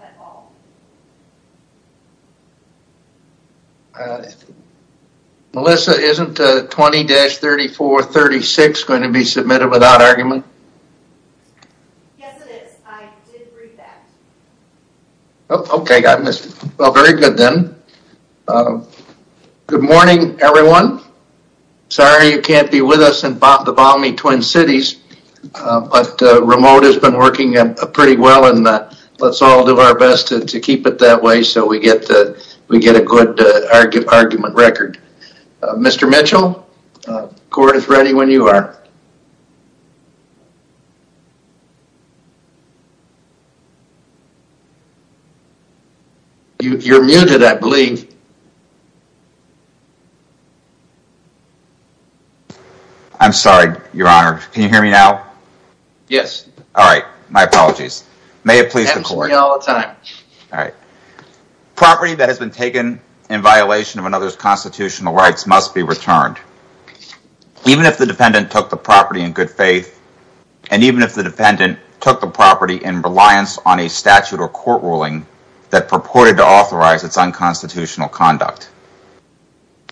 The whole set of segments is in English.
at all? Melissa, isn't 20-3436 going to be submitted without argument? Yes, it is. I did read that. Okay, I missed it. Well, very good then. Good morning, everyone. Sorry you can't be with us in the room, but remote has been working pretty well and let's all do our best to keep it that way so we get a good argument record. Mr. Mitchell, the court is ready when you are. You're muted, I believe. I'm sorry, your honor. Can you hear me now? Yes. All right, my apologies. May it please the court. Answer me all the time. All right. Property that has been taken in violation of another's constitutional rights must be returned. Even if the defendant took the property in good faith and even if the defendant took the property in reliance on a statute, it must be returned to the court.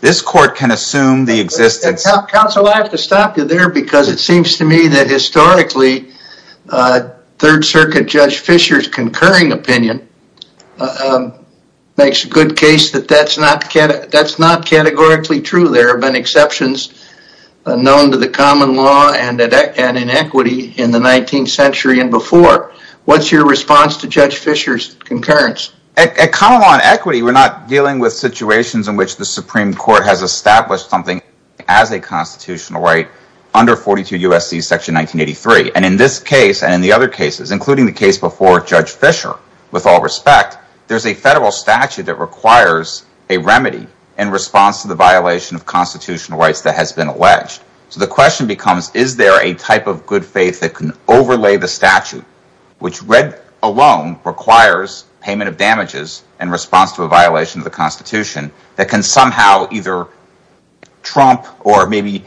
This court can assume the existence. Counsel, I have to stop you there because it seems to me that historically, Third Circuit Judge Fischer's concurring opinion makes a good case that that's not categorically true. There have been exceptions known to the common law and inequity in the 19th century and before. What's your response to Judge Fischer's concurring opinion? At common law and equity, we're not dealing with situations in which the Supreme Court has established something as a constitutional right under 42 U.S.C. section 1983. And in this case, and in the other cases, including the case before Judge Fischer, with all respect, there's a federal statute that requires a remedy in response to the violation of constitutional rights that has been alleged. So the question becomes, is there a type of good faith that can overlay the statute, which read alone requires payment of damages in response to a violation of the Constitution that can somehow either trump or maybe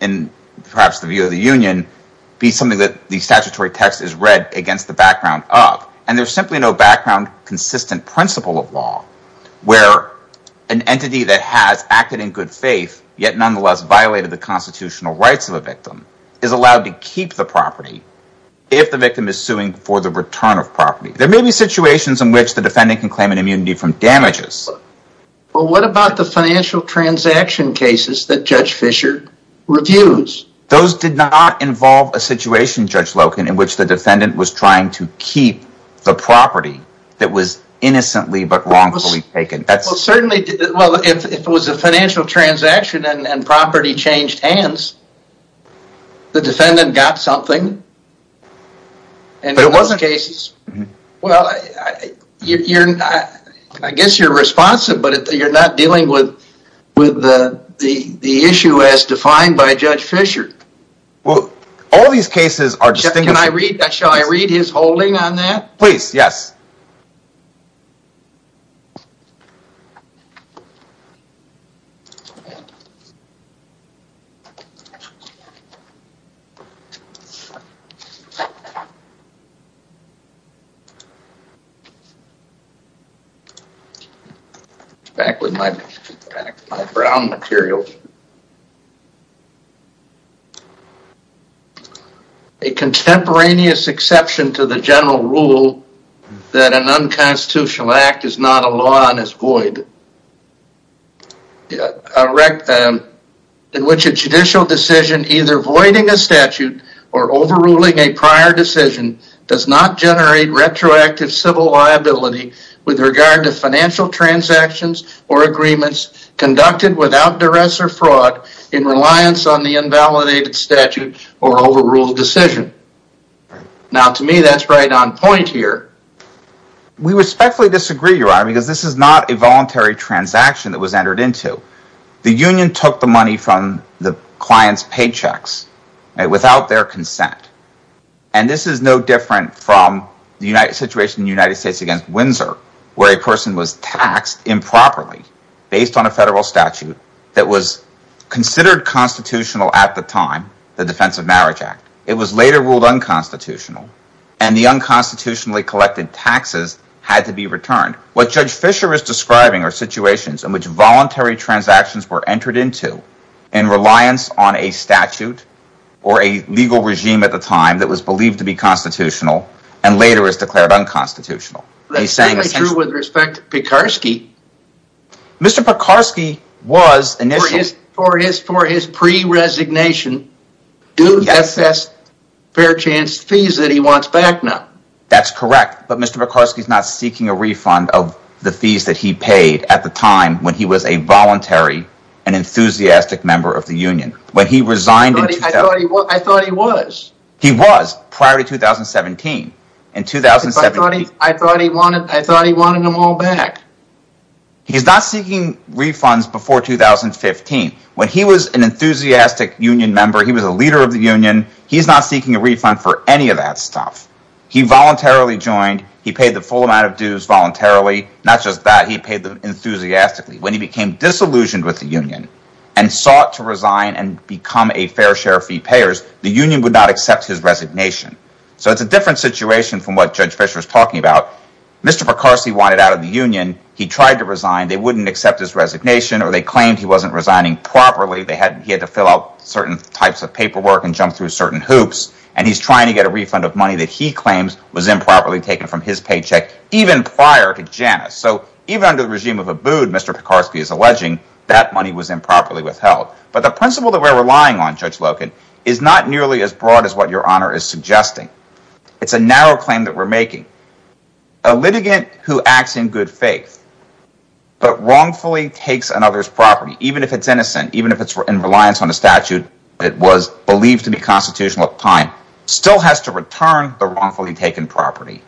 in perhaps the view of the union, be something that the statutory text is read against the background of. And there's simply no background consistent principle of law where an entity that has acted in good faith yet nonetheless violated the constitutional rights of a victim is allowed to keep the property if the victim is suing for the return of property. There may be situations in which the defendant can claim an immunity from damages. But what about the financial transaction cases that Judge Fischer reviews? Those did not involve a situation, Judge Loken, in which the defendant was trying to keep the property that was innocently but wrongfully taken. Well, certainly, well, if it was a financial transaction and property changed hands, the defendant got something. But it wasn't cases. Well, I guess you're responsive, but you're not dealing with the issue as defined by Judge Fischer. Well, all these cases are distinguished. Can I read, shall I read his holding on that? Please, yes. Back with my brown material. A contemporaneous exception to the general rule that an unconstitutional act is not a law and is void. In which a judicial decision either voiding a statute or overruling a prior decision does not generate retroactive civil liability with regard to financial transactions or agreements conducted without duress or fraud in reliance on the invalidated statute or overruled decision. Now, to me, that's right on point here. We respectfully disagree, Your Honor, because this is not a voluntary transaction that was entered into. The union took the money from the client's paychecks without their consent. And this is no different from the situation in the United States against Windsor where a person was taxed improperly based on a federal statute that was considered constitutional at the time, the Defense of Marriage Act. It was later ruled unconstitutional. And the unconstitutionally collected taxes had to be returned. What Judge Fischer is describing are situations in which voluntary transactions were entered into in reliance on a statute or a legal regime at the time that was believed to be constitutional and later is declared unconstitutional. That's certainly true with respect to Pekarsky. Mr. Pekarsky was initially- For his pre-resignation due, that's fair chance fees that he wants back now. That's correct. But Mr. Pekarsky is not seeking a refund of the fees that he paid at the time when he was a voluntary and enthusiastic member of the union. When he resigned in- I thought he was. He was prior to 2017. In 2017. I thought he wanted them all back. He's not seeking refunds before 2015. When he was an enthusiastic union member, he was a leader of the union, he's not seeking a refund for any of that stuff. He voluntarily joined. He paid the full amount of dues voluntarily. Not just that, he paid them enthusiastically. When he became disillusioned with the union and sought to resign and become a fair share of fee payers, the union would not accept his resignation. So it's a different situation from what Judge Fischer is talking about. Mr. Pekarsky wanted out of the union. He tried to resign. They wouldn't accept his resignation or they claimed he wasn't resigning properly. They had- He had to fill out certain types of paperwork and jump through certain hoops. And he's trying to get a refund of money that he claims was improperly taken from his paycheck even prior to Janus. So even under the regime of Abood, Mr. Pekarsky is alleging that money was improperly withheld. But the principle that we're relying on, Judge Loken, is not nearly as broad as what Your Honor is suggesting. It's a narrow claim that we're making. A litigant who acts in good faith but wrongfully takes another's property, even if it's innocent, even if it's in reliance on a statute that was believed to be constitutional at the time, still has to return the wrongfully taken property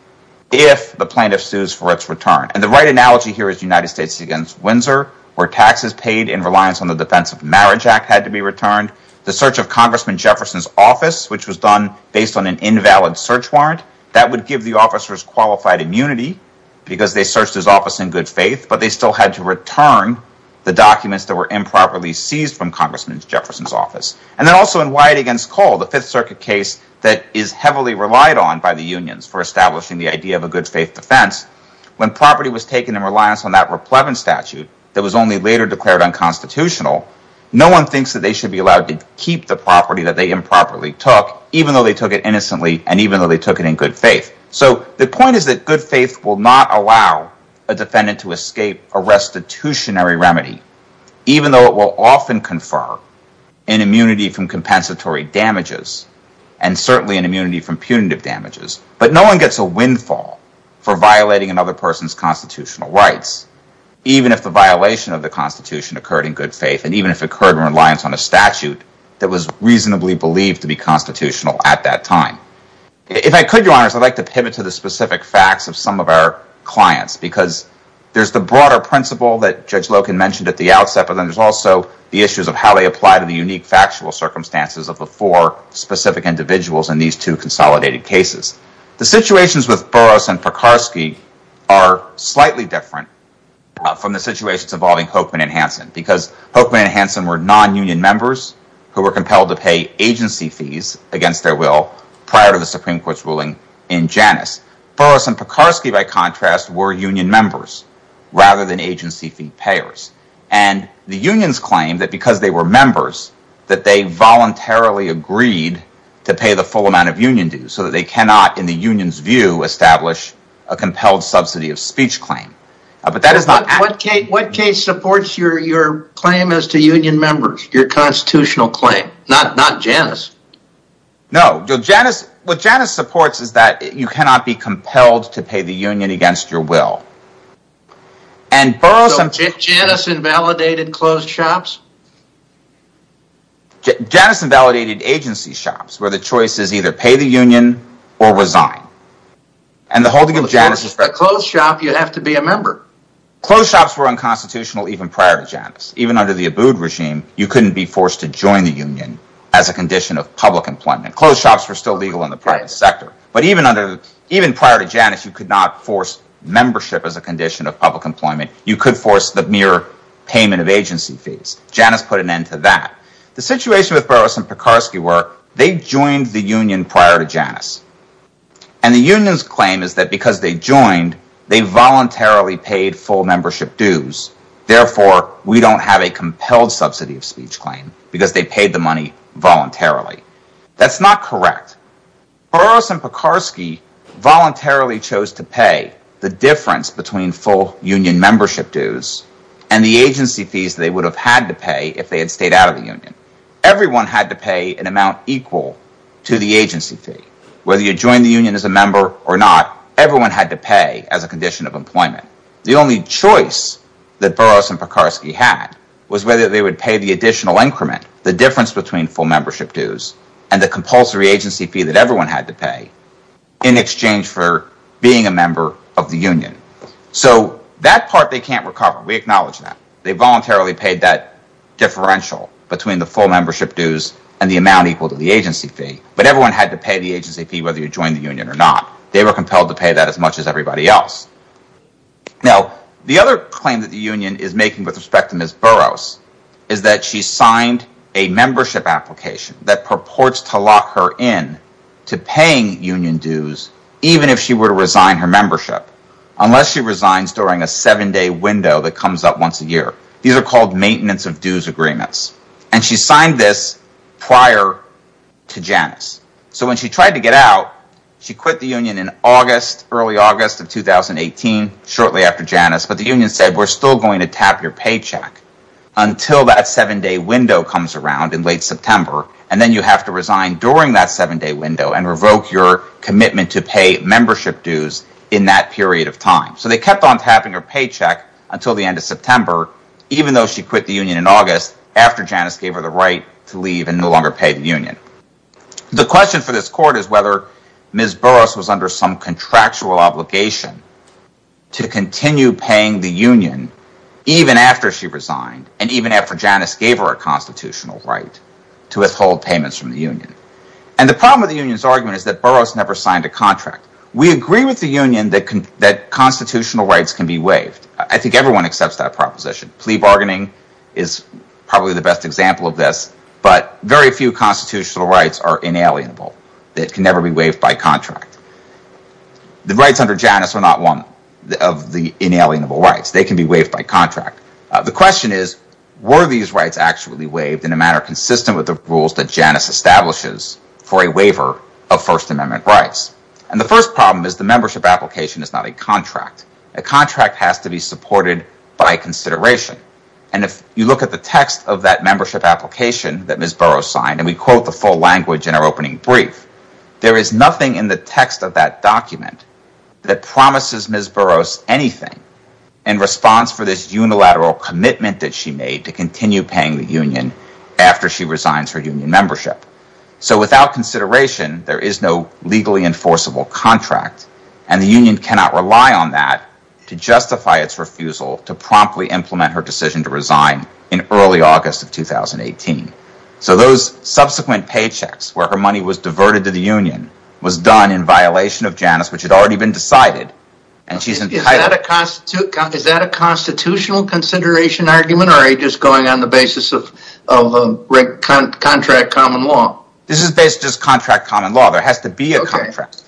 if the plaintiff sues for its return. And the right analogy here is United States against Windsor, where taxes paid in reliance on the Defense of Marriage Act had to be returned. The search of Congressman Jefferson's office, which was done based on an invalid search warrant, that would give the officers qualified immunity because they searched his office in good faith, but they still had to return the documents that were improperly seized from Congressman Jefferson's office. And then also in Wyatt against Cole, the Fifth Circuit case that is heavily relied on by the unions for establishing the idea of a good faith defense, when property was taken in reliance on that replevant statute that was only later declared unconstitutional, no one thinks that they should be allowed to keep the property that they improperly took, even though they took it innocently and even though they took it in good faith. So the point is that good faith will not allow a defendant to escape a restitutionary remedy, even though it will often confer an immunity from compensatory damages and certainly an immunity from punitive damages. But no one gets a windfall for violating another person's constitutional rights, even if the violation of the Constitution occurred in good faith and even if it occurred in reliance on a statute that was reasonably believed to be constitutional at that time. If I could, Your Honors, I'd like to pivot to the specific facts of some of our clients because there's the broader principle that Judge Loken mentioned at the outset, but then there's also the issues of how they apply to the unique factual circumstances of the four individuals in these two consolidated cases. The situations with Burroughs and Pekarsky are slightly different from the situations involving Hokeman and Hanson, because Hokeman and Hanson were non-union members who were compelled to pay agency fees against their will prior to the Supreme Court's ruling in Janus. Burroughs and Pekarsky, by contrast, were union members rather than agency fee payers. And the unions claimed that because they were members that they voluntarily agreed to pay the full amount of union dues so that they cannot, in the union's view, establish a compelled subsidy of speech claim. What case supports your claim as to union members, your constitutional claim, not Janus? No, what Janus supports is that you cannot be compelled to pay the union against your will. Janus invalidated closed shops? Janus invalidated agency shops where the choice is either pay the union or resign. And the holding of Janus is for a closed shop, you have to be a member. Closed shops were unconstitutional even prior to Janus. Even under the Abood regime, you couldn't be forced to join the union as a condition of public employment. Closed shops were still legal in the private sector. But even prior to Janus, you could not force membership as a condition of public employment. You could force the mere payment of agency fees. Janus put an end to that. The situation with Burroughs and Pekarsky were they joined the union prior to Janus. And the union's claim is that because they joined, they voluntarily paid full membership dues. Therefore, we don't have a compelled subsidy of speech claim because they paid the money voluntarily. That's not correct. Burroughs and Pekarsky voluntarily chose to pay the difference between full union membership dues and the agency fees they would have had to pay if they had stayed out of the union. Everyone had to pay an amount equal to the agency fee. Whether you joined the union as a member or not, everyone had to pay as a condition of employment. The only choice that Burroughs and Pekarsky had was whether they would pay the additional increment, the difference between full membership dues and the compulsory agency fee that everyone had to pay in exchange for being a member of the union. So that part they can't recover. We acknowledge that. They voluntarily paid that differential between the full membership dues and the amount equal to the agency fee. But everyone had to pay the agency fee whether you joined the union or not. They were compelled to pay that as much as everybody else. Now, the other claim that the union is making with respect to Ms. Burroughs is that she signed a membership application that union dues, even if she were to resign her membership, unless she resigns during a seven-day window that comes up once a year. These are called maintenance of dues agreements. And she signed this prior to Janus. So when she tried to get out, she quit the union in August, early August of 2018, shortly after Janus. But the union said, we're still going to tap your paycheck until that seven-day window comes around in late September. And then you have to resign during that window and revoke your commitment to pay membership dues in that period of time. So they kept on tapping her paycheck until the end of September, even though she quit the union in August after Janus gave her the right to leave and no longer pay the union. The question for this court is whether Ms. Burroughs was under some contractual obligation to continue paying the union even after she resigned and even after Janus gave her a constitutional right to withhold payments from the union. And the problem with the union's argument is that Burroughs never signed a contract. We agree with the union that constitutional rights can be waived. I think everyone accepts that proposition. Plea bargaining is probably the best example of this, but very few constitutional rights are inalienable. They can never be waived by contract. The rights under Janus are not one of the inalienable rights. They can be waived by rules that Janus establishes for a waiver of First Amendment rights. And the first problem is the membership application is not a contract. A contract has to be supported by consideration. And if you look at the text of that membership application that Ms. Burroughs signed, and we quote the full language in our opening brief, there is nothing in the text of that document that promises Ms. Burroughs anything in response for this unilateral commitment that she made to continue paying the union after she resigns her union membership. So without consideration, there is no legally enforceable contract. And the union cannot rely on that to justify its refusal to promptly implement her decision to resign in early August of 2018. So those subsequent paychecks where her money was diverted to the union was done in violation of Janus, which had already been decided. Is that a constitutional consideration argument or are you just going on the basis of contract common law? This is basically just contract common law. There has to be a contract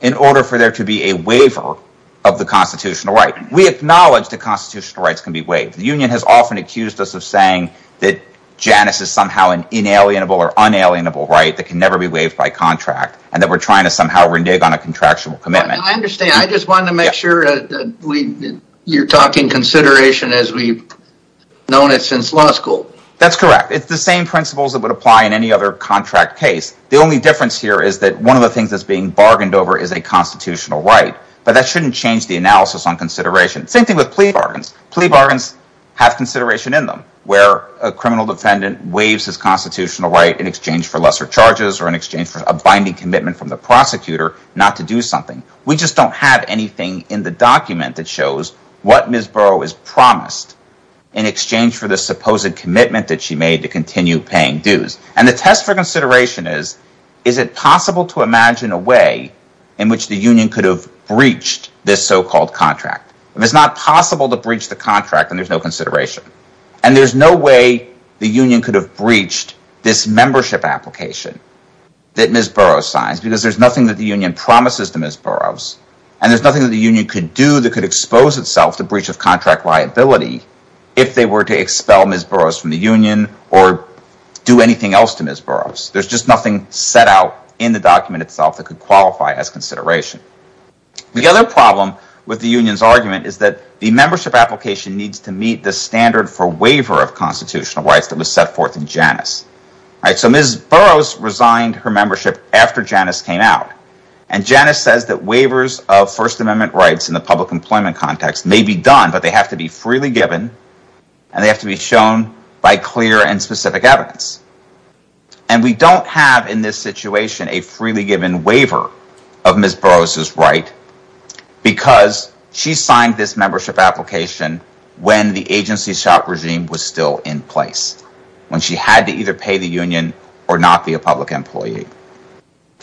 in order for there to be a waiver of the constitutional right. We acknowledge that constitutional rights can be waived. The union has often accused us of saying that Janus is somehow an inalienable or unalienable right that can never be waived by contract and that we're trying to renege on a contractual commitment. I understand. I just wanted to make sure that you're talking consideration as we've known it since law school. That's correct. It's the same principles that would apply in any other contract case. The only difference here is that one of the things that's being bargained over is a constitutional right, but that shouldn't change the analysis on consideration. Same thing with plea bargains. Plea bargains have consideration in them where a criminal defendant waives his constitutional right in exchange for lesser charges or in not to do something. We just don't have anything in the document that shows what Ms. Burrow has promised in exchange for the supposed commitment that she made to continue paying dues. The test for consideration is, is it possible to imagine a way in which the union could have breached this so-called contract? If it's not possible to breach the contract, then there's no consideration. There's no way the union could have breached this membership application that Ms. Burrow signs because there's nothing that the union promises to Ms. Burrow. There's nothing that the union could do that could expose itself to breach of contract liability if they were to expel Ms. Burrow from the union or do anything else to Ms. Burrow. There's just nothing set out in the document itself that could qualify as consideration. The other problem with the union's argument is that the membership application needs to meet the standard for waiver of constitutional rights that was set forth in Janus. Ms. Burrow resigned her membership after Janus came out and Janus says that waivers of First Amendment rights in the public employment context may be done, but they have to be freely given and they have to be shown by clear and specific evidence. We don't have in this situation a freely given waiver of Ms. Burrow's right because she signed this membership application when the agency shop regime was still in place, when she had to either pay the union or not be a public employee.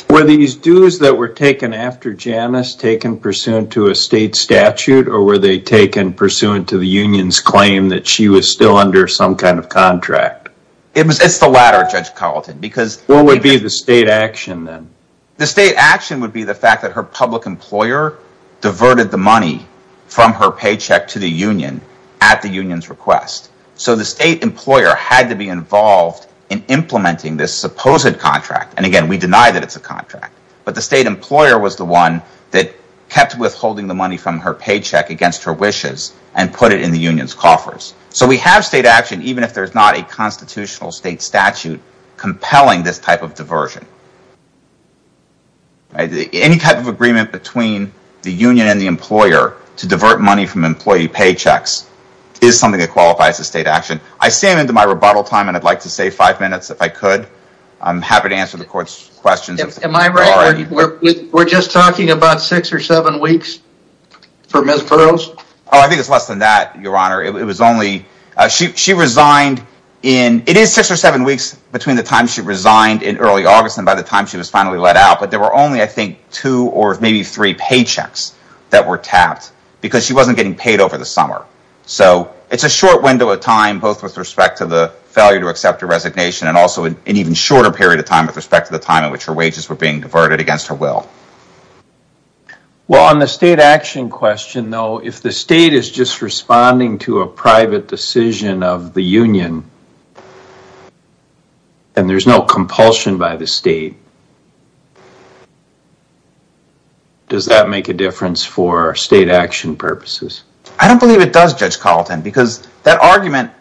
Were these dues that were taken after Janus taken pursuant to a state statute or were they taken pursuant to the union's claim that she was still under some kind of contract? It's the latter, Judge Carleton. What would be the state action then? The state action would be the fact that her public employer diverted the money from her paycheck to the union at the union's request. So the state employer had to be involved in implementing this supposed contract, and again we deny that it's a contract, but the state employer was the one that kept withholding the money from her paycheck against her wishes and put it in the union's coffers. So we have state action even if there's not a constitutional state statute compelling this type of diversion. Any type of agreement between the union and the employer to divert money from employee paychecks is something that qualifies as state action. I stand into my rebuttal time and I'd like to save five minutes if I could. I'm happy to answer the court's questions. Am I right, we're just talking about six or seven It is six or seven weeks between the time she resigned in early August and by the time she was finally let out, but there were only I think two or maybe three paychecks that were tapped because she wasn't getting paid over the summer. So it's a short window of time both with respect to the failure to accept her resignation and also an even shorter period of time with respect to the time in which her wages were being diverted against her will. Well on the state action question though, if the state is just responding to a private decision of the union and there's no compulsion by the state, does that make a difference for state action purposes? I don't believe it does Judge Carlton because that argument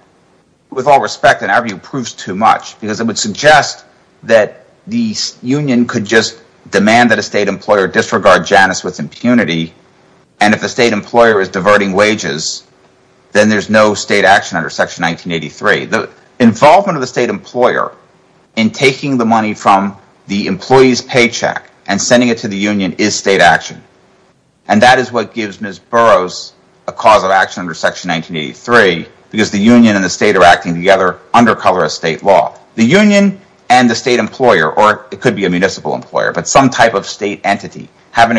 with all respect in our view proves too much because it would suggest that the union could just demand that a state employer disregard Janice with impunity and if the state employer is diverting wages then there's no state action under section 1983. The involvement of the state employer in taking the money from the employee's paycheck and sending it to the union is state action and that is what gives Ms. Burroughs a cause of action under section 1983 because the union and the state are acting together under colorist state law. The union and the state employer or it could be a municipal employer but some type of state entity have an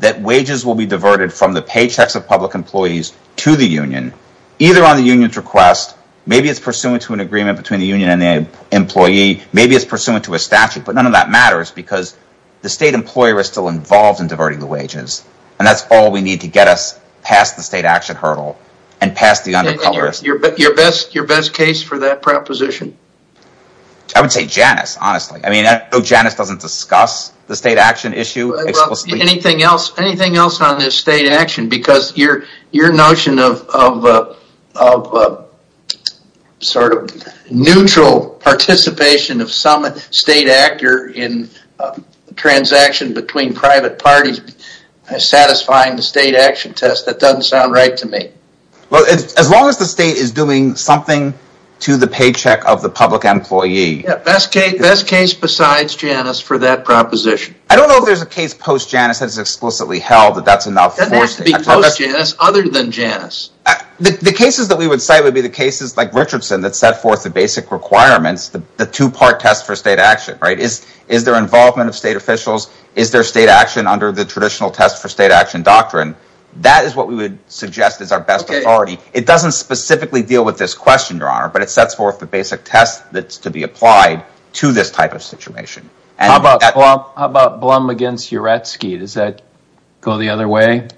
that wages will be diverted from the paychecks of public employees to the union either on the union's request, maybe it's pursuant to an agreement between the union and the employee, maybe it's pursuant to a statute but none of that matters because the state employer is still involved in diverting the wages and that's all we need to get us past the state action hurdle and past the under colorist. Your best case for that proposition? I would say Janice honestly, Janice doesn't discuss the state action issue. Anything else on this state action because your notion of sort of neutral participation of some state actor in transaction between private parties satisfying the state action test, that doesn't sound right to me. As long as the state is doing something to the paycheck of the public employee. Best case besides Janice for that proposition. I don't know if there's a case post Janice that's explicitly held that that's enough. That has to be post Janice other than Janice. The cases that we would cite would be the cases like Richardson that set forth the basic requirements, the two-part test for state action, right? Is there involvement of state officials? Is there state action under the traditional test for state action doctrine? That is what we would suggest is our best authority. It doesn't specifically deal with this question, but it sets forth the basic test that's to be applied to this type of situation. How about Blum against Uretzky? Does that go the other way? Are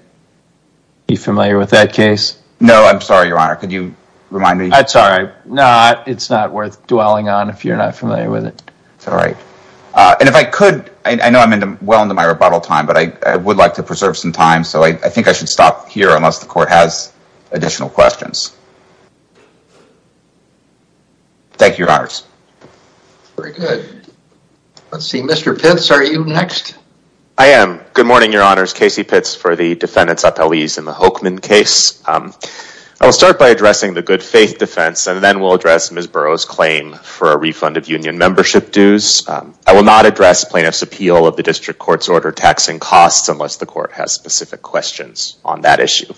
you familiar with that case? No, I'm sorry, your honor. Could you remind me? That's all right. No, it's not worth dwelling on if you're not familiar with it. It's all right. And if I could, I know I'm well into my rebuttal time, but I would like to preserve some time. So I think I should stop here unless the court has additional questions. Thank you, your honors. Very good. Let's see. Mr. Pitts, are you next? I am. Good morning, your honors. Casey Pitts for the defendants appellees in the Hochman case. I'll start by addressing the good faith defense and then we'll address Ms. Burroughs claim for a refund of union membership dues. I will not address plaintiff's appeal of the district court's order taxing costs unless the court has specific questions on that issue.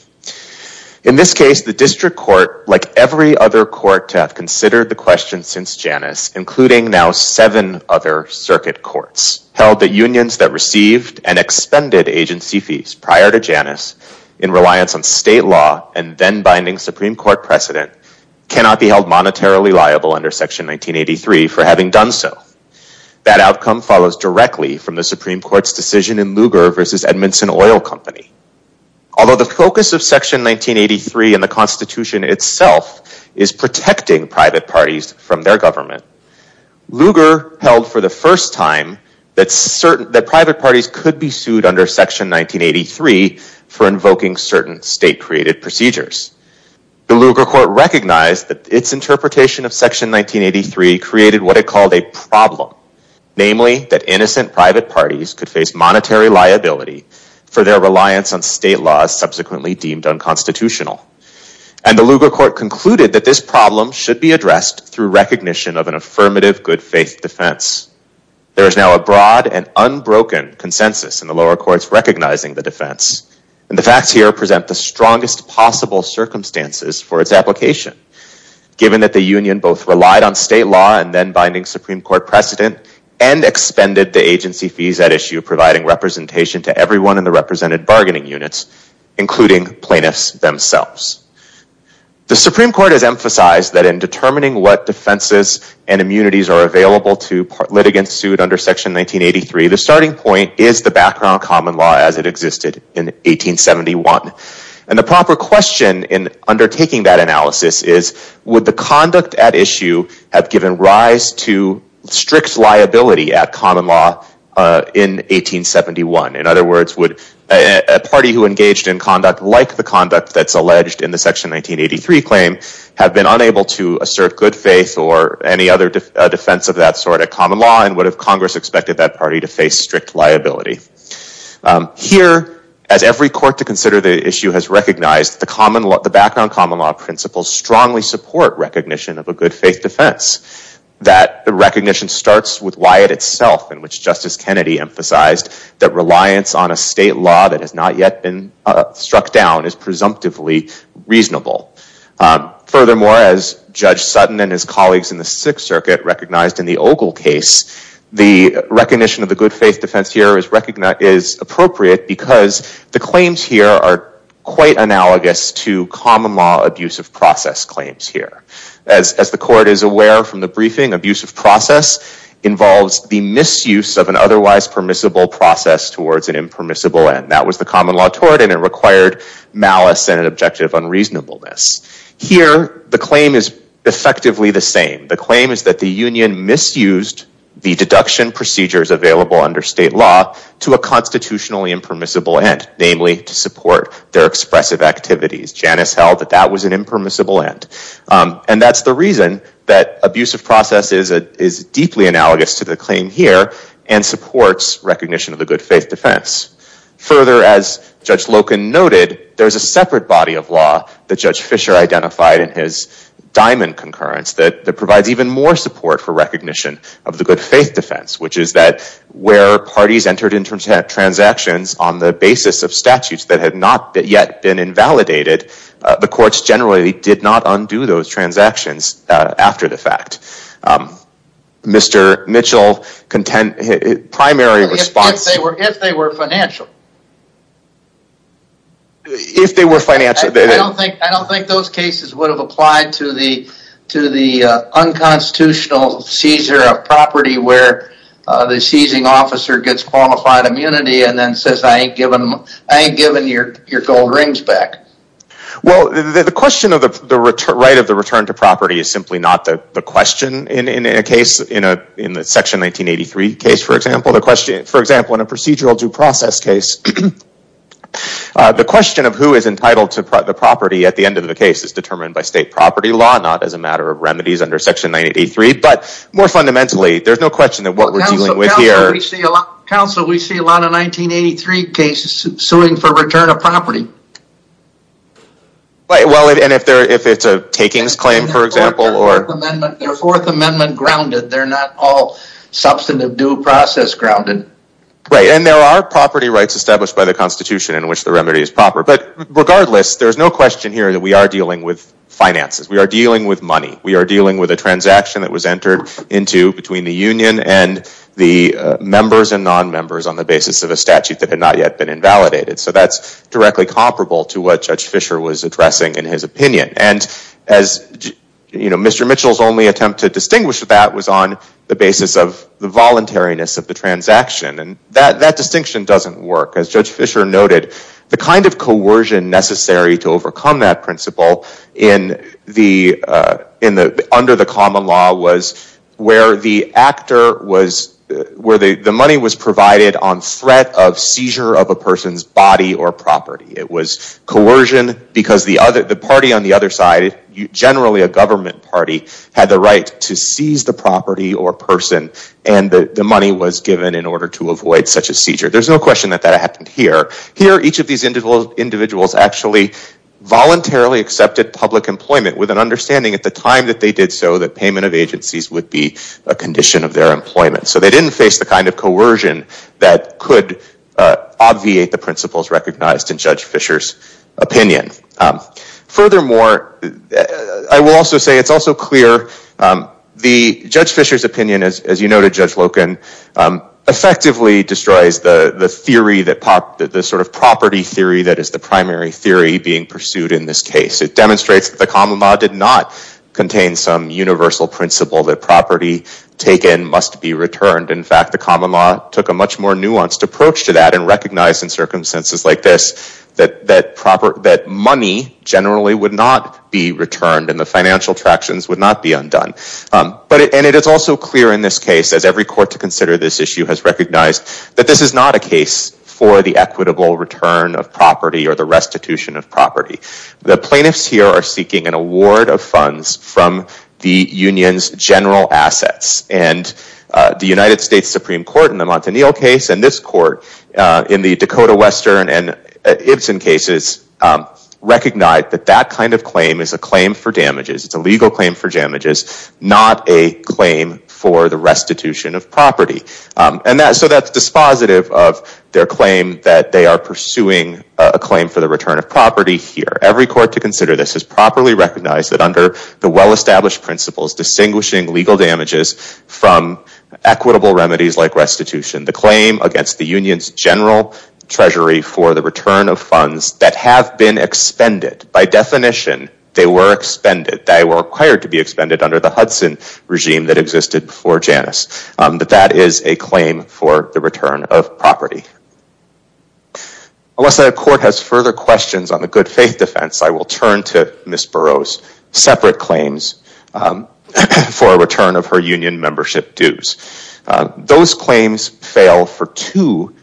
In this case, the district court, like every other court to have considered the question since Janus, including now seven other circuit courts, held that unions that received and expended agency fees prior to Janus in reliance on state law and then binding Supreme Court precedent cannot be held monetarily liable under section 1983 for having done so. That outcome follows directly from the Supreme Court's decision in Lugar versus Edmondson Oil Company. Although the focus of section 1983 in the constitution itself is protecting private parties from their government, Lugar held for the first time that private parties could be sued under section 1983 for invoking certain state created procedures. The Lugar court recognized that its interpretation of section 1983 created what it called a problem, namely that innocent private parties could face monetary liability for their reliance on state laws subsequently deemed unconstitutional. And the Lugar court concluded that this problem should be addressed through recognition of an affirmative good faith defense. There is now a broad and unbroken consensus in the lower courts recognizing the defense and the facts here present the strongest possible circumstances for its application given that the union both relied on state law and then providing representation to everyone in the represented bargaining units, including plaintiffs themselves. The Supreme Court has emphasized that in determining what defenses and immunities are available to litigants sued under section 1983, the starting point is the background common law as it existed in 1871. And the proper question in undertaking that analysis is would the conduct at issue have given rise to strict liability at common law in 1871? In other words, would a party who engaged in conduct like the conduct that's alleged in the section 1983 claim have been unable to assert good faith or any other defense of that sort at common law? And would have Congress expected that party to face strict liability? Here, as every court to consider the issue has recognized the background common law principles strongly support recognition of a good faith defense. That the recognition starts with Wyatt itself in which Justice Kennedy emphasized that reliance on a state law that has not yet been struck down is presumptively reasonable. Furthermore, as Judge Sutton and his colleagues in the Sixth Circuit recognized in the Ogle case, the recognition of the good faith defense here is appropriate because the claims here are quite analogous to common law abusive process claims here. As the court is aware from the briefing, abusive process involves the misuse of an otherwise permissible process towards an impermissible end. That was the common law tort and it required malice and objective unreasonableness. Here, the claim is under state law to a constitutionally impermissible end, namely to support their expressive activities. Janice held that that was an impermissible end. And that's the reason that abusive process is deeply analogous to the claim here and supports recognition of the good faith defense. Further, as Judge Loken noted, there's a separate body of law that Judge Fisher identified in his diamond concurrence that provides even more support for recognition of the good faith defense, which is that where parties entered into transactions on the basis of statutes that had not yet been invalidated, the courts generally did not undo those transactions after the fact. Mr. Mitchell, primary response... If they were financial. If they were financial. I don't think those cases would have applied to the unconstitutional seizure of property where the seizing officer gets qualified immunity and then says, I ain't giving your gold rings back. Well, the question of the right of the return to property is simply not the question in a case, in the Section 1983 case, for example. For example, in a procedural due process case, the question of who is entitled to the property at the end of the case is determined by state property law, not as a matter of remedies under Section 1983. More fundamentally, there's no question that what we're dealing with here... Counsel, we see a lot of 1983 cases suing for return of property. Well, and if it's a takings claim, for example... They're Fourth Amendment grounded. They're not all substantive due process grounded. And there are property rights established by the Constitution in which the remedy is proper. But regardless, there's no question here that we are dealing with finances. We are dealing with money. We are dealing with a transaction that was entered into between the union and the members and non-members on the basis of a statute that had not yet been invalidated. So that's directly comparable to what Judge Fischer was addressing in his opinion. And as Mr. Mitchell's only attempt to distinguish that was on the basis of the voluntariness of the transaction. And that distinction doesn't work. As Judge Fischer noted, the kind of coercion necessary to overcome that principle under the common law was where the money was provided on threat of seizure of a person's body or property. It was coercion because the party on the other side, generally a government party, had the right to seize the property or person. And the money was given in order to avoid such a seizure. There's no question that that happened here. Here each of these individuals actually voluntarily accepted public employment with an understanding at the time that they did so that payment of agencies would be a condition of their employment. So they didn't face the kind of coercion that could obviate the principles recognized in Judge Fischer's opinion. Furthermore, I will also say it's also clear that Judge Fischer's opinion, as you noted Judge Loken, effectively destroys the theory, the sort of property theory that is the primary theory being pursued in this case. It demonstrates that the common law did not contain some universal principle that property taken must be returned. In fact, the common law took a much more nuanced approach to that and recognized in circumstances like this that money generally would not be returned and the financial tractions would not be undone. And it is also clear in this case, as every court to consider this issue has recognized, that this is not a case for the equitable return of property or the restitution of property. The plaintiffs here are seeking an award of funds from the union's general assets. And the United States Supreme Court in the Montanil case and this court in the Dakota claim for damages, not a claim for the restitution of property. And so that's dispositive of their claim that they are pursuing a claim for the return of property here. Every court to consider this has properly recognized that under the well-established principles distinguishing legal damages from equitable remedies like restitution, the claim against the union's general treasury for the return of funds that have been expended, by definition they were required to be expended under the Hudson regime that existed before Janus, that that is a claim for the return of property. Unless the court has further questions on the good faith defense, I will turn to Ms. Burroughs' separate claims for a return of her union membership dues. Those claims fail for two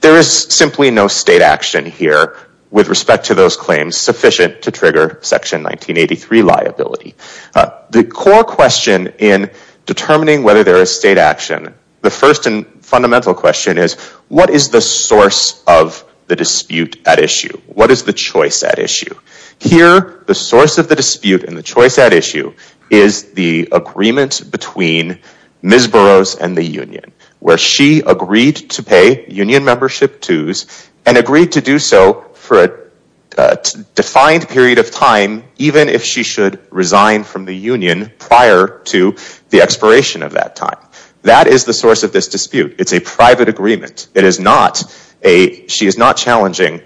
There is simply no state action here with respect to those claims sufficient to trigger section 1983 liability. The core question in determining whether there is state action, the first and fundamental question is what is the source of the dispute at issue? What is the choice at issue? Here the source of the dispute and the choice at issue is the agreement between Ms. Burroughs and the union where she agreed to pay union membership dues and agreed to do so for a defined period of time even if she should resign from the union prior to the expiration of that time. That is the source of this dispute. It's a private agreement. It is not a, she is not challenging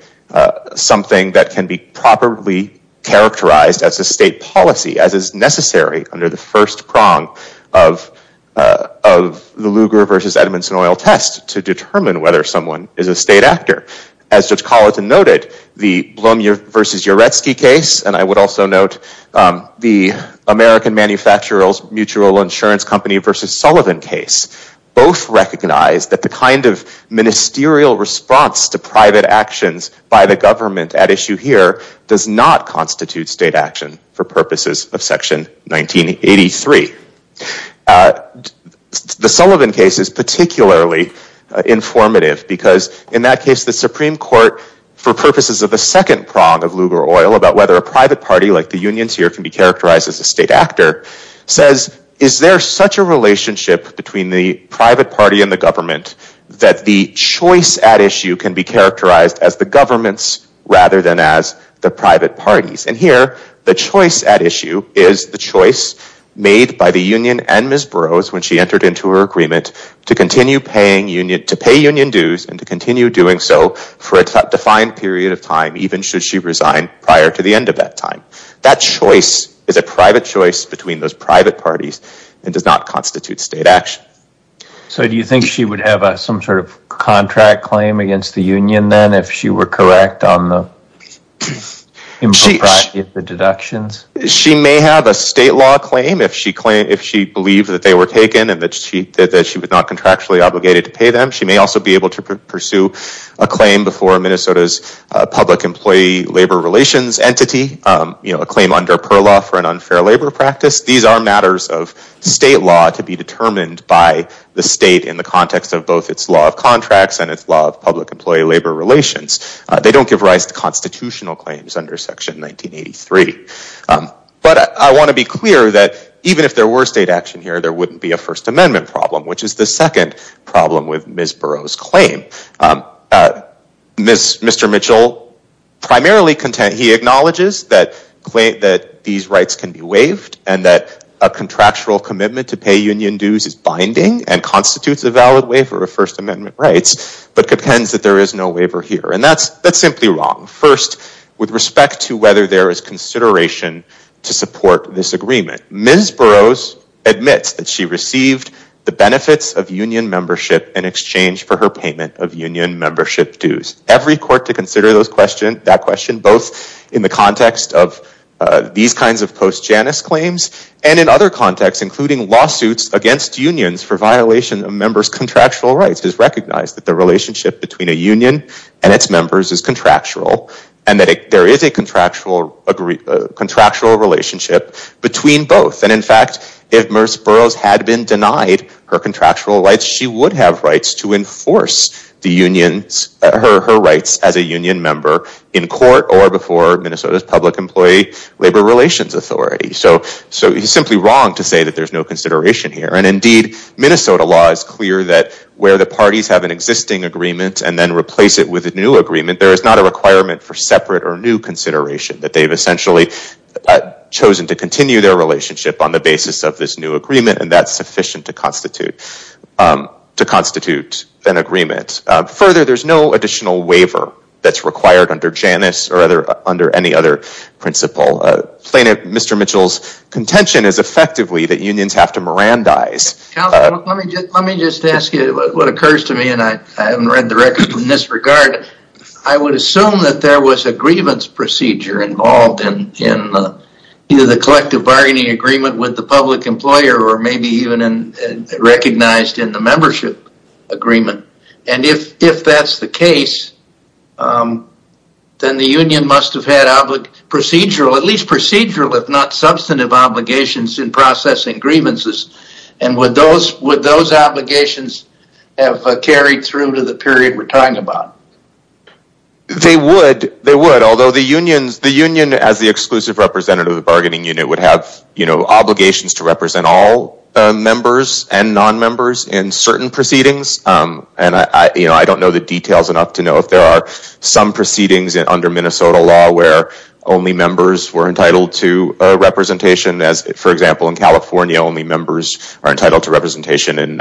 something that can be properly characterized as a state policy as is necessary under the first prong of the Lugar v. Edmundson oil test to determine whether someone is a state actor. As Judge Colleton noted, the Blum v. Uretsky case and I would also note the American Manufacturers Mutual Insurance Company v. Sullivan case both recognize that the kind of ministerial response to private actions by the government at issue here does not constitute state action for purposes of section 1983. The Sullivan case is particularly informative because in that case the Supreme Court for purposes of the second prong of Lugar oil about whether a private party like the unions here can be characterized as a state actor says is there such a relationship between the private party and the government that the choice at issue can be characterized as the parties. And here the choice at issue is the choice made by the union and Ms. Burroughs when she entered into her agreement to continue paying union dues and to continue doing so for a defined period of time even should she resign prior to the end of that time. That choice is a private choice between those private parties and does not constitute state action. So do you think she would have some sort of contract claim against the union then if she were correct on the impropriety of the deductions? She may have a state law claim if she claimed if she believed that they were taken and that she that she was not contractually obligated to pay them. She may also be able to pursue a claim before Minnesota's public employee labor relations entity. You know a claim under per law for an unfair labor practice. These are matters of state law to be determined by the state in the context of both its law of contracts and its law public employee labor relations. They don't give rise to constitutional claims under section 1983. But I want to be clear that even if there were state action here there wouldn't be a first amendment problem which is the second problem with Ms. Burroughs claim. Mr. Mitchell primarily content he acknowledges that claim that these rights can be waived and that a contractual commitment to pay union dues is binding and constitutes a valid way for a first amendment rights but contends that there is no waiver here. And that's that's simply wrong. First with respect to whether there is consideration to support this agreement. Ms. Burroughs admits that she received the benefits of union membership in exchange for her payment of union membership dues. Every court to consider those question that question both in the context of these kinds of post-Janus claims and in other contexts including lawsuits against unions for violation of members contractual rights has recognized that the relationship between a union and its members is contractual and that there is a contractual agree contractual relationship between both. And in fact if Ms. Burroughs had been denied her contractual rights she would have rights to enforce the unions her her rights as a union member in court or before Minnesota's public employee labor relations authority. So so he's simply wrong to say that there's no consideration here and indeed Minnesota law is clear that where the parties have an existing agreement and then replace it with a new agreement there is not a requirement for separate or new consideration that they've essentially chosen to continue their relationship on the basis of this new agreement and that's sufficient to constitute to constitute an agreement. Further there's no additional waiver that's required under Janus or other under any other principle. Plaintiff Mr. Mitchell's intention is effectively that unions have to Mirandize. Let me just let me just ask you what occurs to me and I haven't read the record in this regard. I would assume that there was a grievance procedure involved in in either the collective bargaining agreement with the public employer or maybe even in recognized in the membership agreement and if if that's the case um then the union must have had procedural at least procedural if not substantive obligations in processing grievances and would those would those obligations have carried through to the period we're talking about? They would they would although the unions the union as the exclusive representative of the bargaining unit would have you know obligations to represent all members and non-members in certain proceedings um and I you know I don't know the details enough to know if some proceedings under Minnesota law where only members were entitled to a representation as for example in California only members are entitled to representation in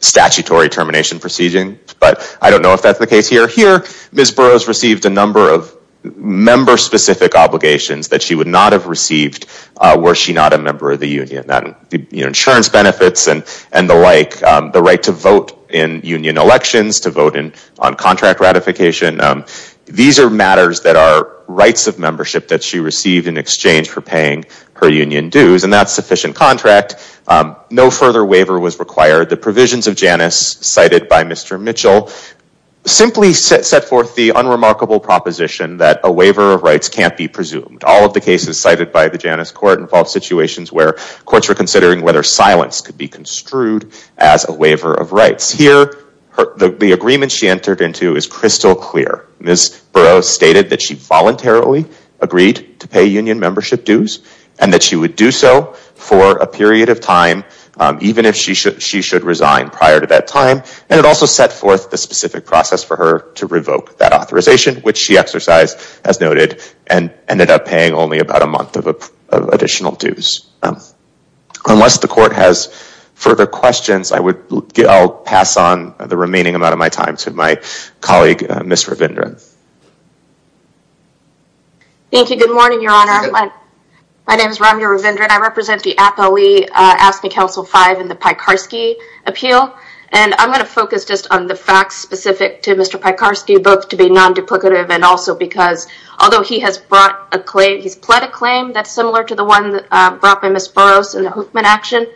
statutory termination proceeding but I don't know if that's the case here. Here Ms. Burroughs received a number of member specific obligations that she would not have received were she not a member of the union that insurance benefits and and the like the right to vote in union elections to vote in contract ratification um these are matters that are rights of membership that she received in exchange for paying her union dues and that's sufficient contract um no further waiver was required the provisions of Janus cited by Mr. Mitchell simply set forth the unremarkable proposition that a waiver of rights can't be presumed all of the cases cited by the Janus court involved situations where courts were considering whether silence could be construed as a waiver of rights here the agreement she entered into is crystal clear Ms. Burroughs stated that she voluntarily agreed to pay union membership dues and that she would do so for a period of time even if she should she should resign prior to that time and it also set forth the specific process for her to revoke that authorization which she exercised as noted and I would get I'll pass on the remaining amount of my time to my colleague Ms. Ravindran. Thank you good morning your honor my name is Ramya Ravindran I represent the APLE AFSCME Council 5 in the Piekarski appeal and I'm going to focus just on the facts specific to Mr. Piekarski both to be non-duplicative and also because although he has brought a claim he's pled a claim that's similar to the one brought by Ms. Burroughs in the Huffman action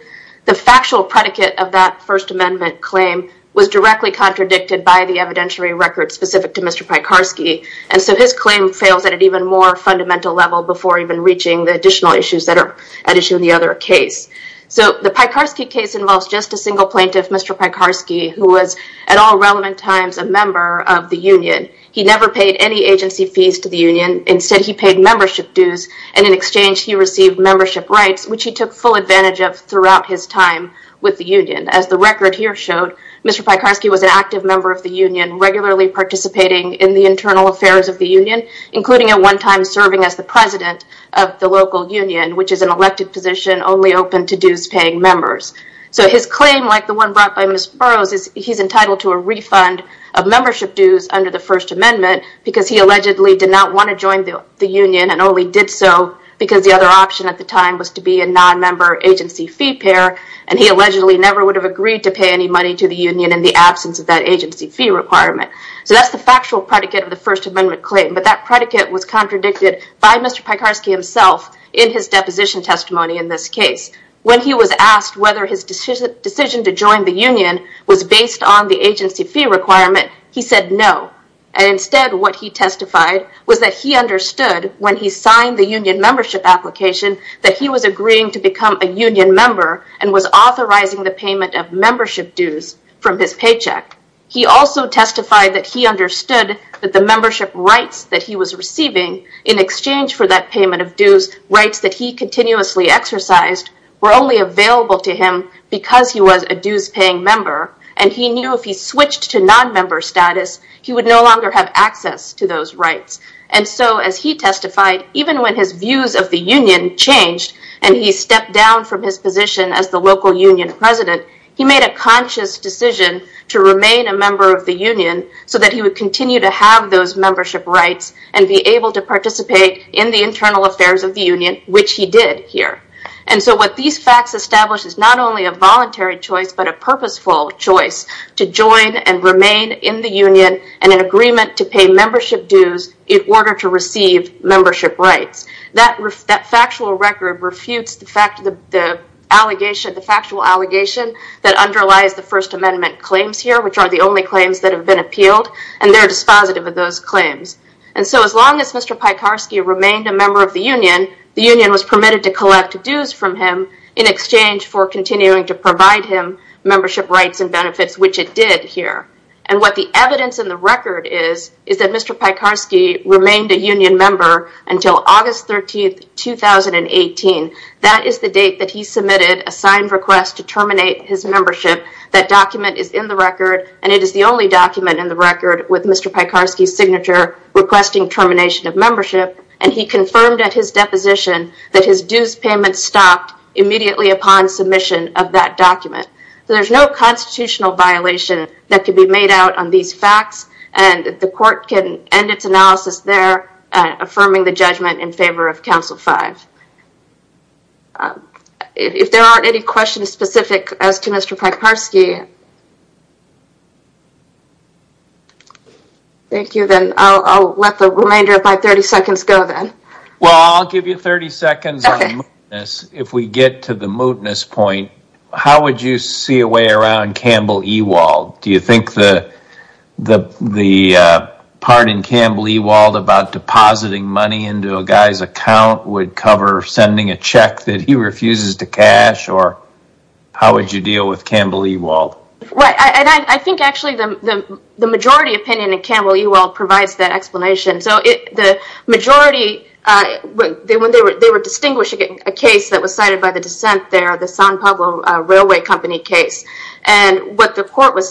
the factual predicate of that first amendment claim was directly contradicted by the evidentiary record specific to Mr. Piekarski and so his claim fails at an even more fundamental level before even reaching the additional issues that are at issue in the other case so the Piekarski case involves just a single plaintiff Mr. Piekarski who was at all relevant times a member of the union he never paid any agency fees to the union instead he paid membership dues and in exchange he received membership rights which he took full advantage of throughout his time with the union as the record here showed Mr. Piekarski was an active member of the union regularly participating in the internal affairs of the union including at one time serving as the president of the local union which is an elected position only open to dues-paying members so his claim like the one brought by Ms. Burroughs is he's entitled to a refund of membership dues under the first amendment because he allegedly did not want to join the union and only did so because the other option at the time was to be a non-member agency fee pair and he allegedly never would have agreed to pay any money to the union in the absence of that agency fee requirement so that's the factual predicate of the first amendment claim but that predicate was contradicted by Mr. Piekarski himself in his deposition testimony in this case when he was asked whether his decision to join the union was based on the agency fee requirement he said no and instead what he testified was that he understood when he signed the union membership application that he was agreeing to become a union member and was authorizing the payment of membership dues from his paycheck he also testified that he understood that the membership rights that he was receiving in exchange for that payment of dues rights that he continuously exercised were only available to him because he was a dues-paying member and he knew if he switched to non-member status he would no longer have access to those rights and so as he testified even when his views of the union changed and he stepped down from his position as the local union president he made a conscious decision to remain a member of the union so that he would continue to have those membership rights and be able to participate in the internal affairs of the union which he did here and so what these facts establish is not only a voluntary choice but a purposeful choice to join and remain in the union and an agreement to pay membership dues in order to receive membership rights. That factual record refutes the fact the allegation the factual allegation that underlies the first amendment claims here which are the only claims that have been appealed and they're dispositive of those claims and so as long as Mr. Piekarski remained a member of the union the union was permitted to collect dues from him in exchange for continuing to provide him membership rights and benefits which it did here and what the evidence in the record is is that Mr. Piekarski remained a union member until August 13, 2018. That is the date that he submitted a signed request to terminate his membership. That document is in the record and it is the only document in the record with Mr. Piekarski's signature requesting termination of membership and he confirmed at his deposition that his dues payment stopped immediately upon submission of that document. So there's no constitutional violation that can be made out on these facts and the court can end its analysis there affirming the judgment in favor of Council 5. If there aren't any questions specific as to Mr. Piekarski... Thank you then I'll let the remainder of my 30 seconds go then. Well I'll give you 30 seconds. If we get to the mootness point how would you see a way around Campbell Ewald? Do you think the part in Campbell Ewald about depositing money into a guy's account would cover sending a check that he refuses to cash or how would you deal with Campbell Ewald? Right and I think actually the majority opinion in Campbell Ewald provides that explanation so the majority when they were distinguishing a case that was cited by the dissent there the San Pablo Railway Company case and what the court was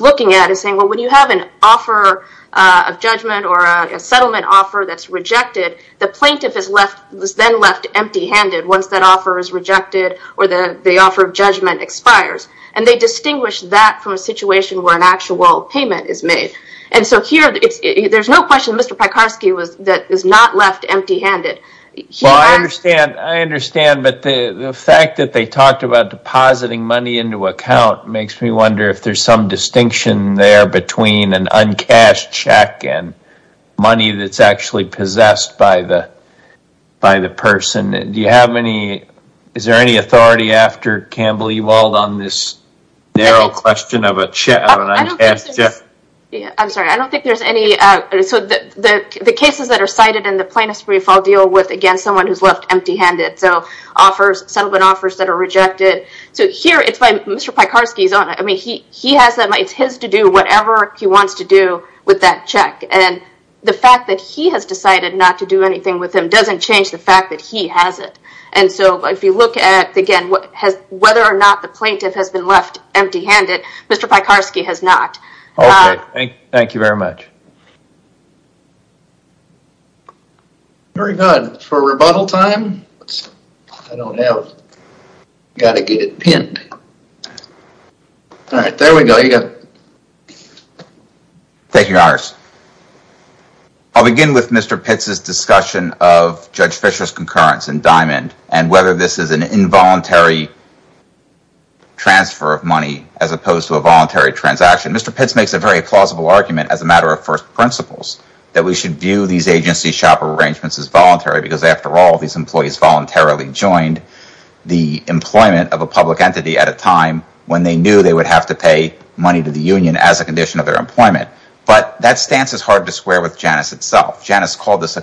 looking at is saying well when you have an offer of judgment or a settlement offer that's rejected the plaintiff is then left empty-handed once that offer is rejected or the offer of judgment expires and they distinguish that from situation where an actual payment is made and so here it's there's no question Mr. Piekarski was that is not left empty-handed. Well I understand I understand but the the fact that they talked about depositing money into account makes me wonder if there's some distinction there between an uncashed check and money that's actually possessed by the by the person. Do you have any is there any authority after Campbell Ewald on this narrow question of a check? I'm sorry I don't think there's any so the the cases that are cited in the plaintiff's brief I'll deal with again someone who's left empty-handed so offers settlement offers that are rejected so here it's by Mr. Piekarski's own I mean he he has that it's his to do whatever he wants to do with that check and the fact that he has decided not to do anything with him doesn't change the if you look at again what has whether or not the plaintiff has been left empty-handed Mr. Piekarski has not. Okay thank you very much. Very good for rebuttal time I don't have got to get it pinned all right there we go you got Thank you Harris. I'll begin with Mr. Pitts's discussion of Judge Fisher's concurrence in this is an involuntary transfer of money as opposed to a voluntary transaction. Mr. Pitts makes a very plausible argument as a matter of first principles that we should view these agency shop arrangements as voluntary because after all these employees voluntarily joined the employment of a public entity at a time when they knew they would have to pay money to the union as a condition of their employment but that stance is hard to square with Janice itself. Janice called this a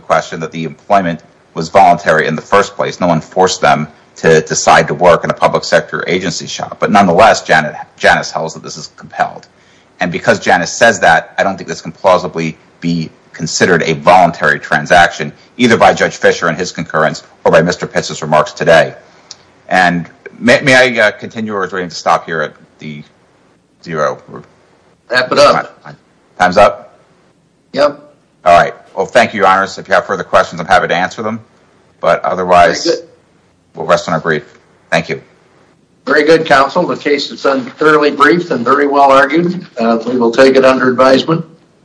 question that the employment was voluntary in the first place no one forced them to decide to work in a public sector agency shop but nonetheless Janice Janice tells that this is compelled and because Janice says that I don't think this can plausibly be considered a voluntary transaction either by Judge Fisher and his concurrence or by Mr. Pitts's remarks today and may I continue or do I need to stop here at the zero time's up yep all right well thank you Iris if you have further questions I'm happy to answer them but otherwise we'll rest on our brief thank you very good counsel the case is thoroughly brief and very well argued we will take it under advisement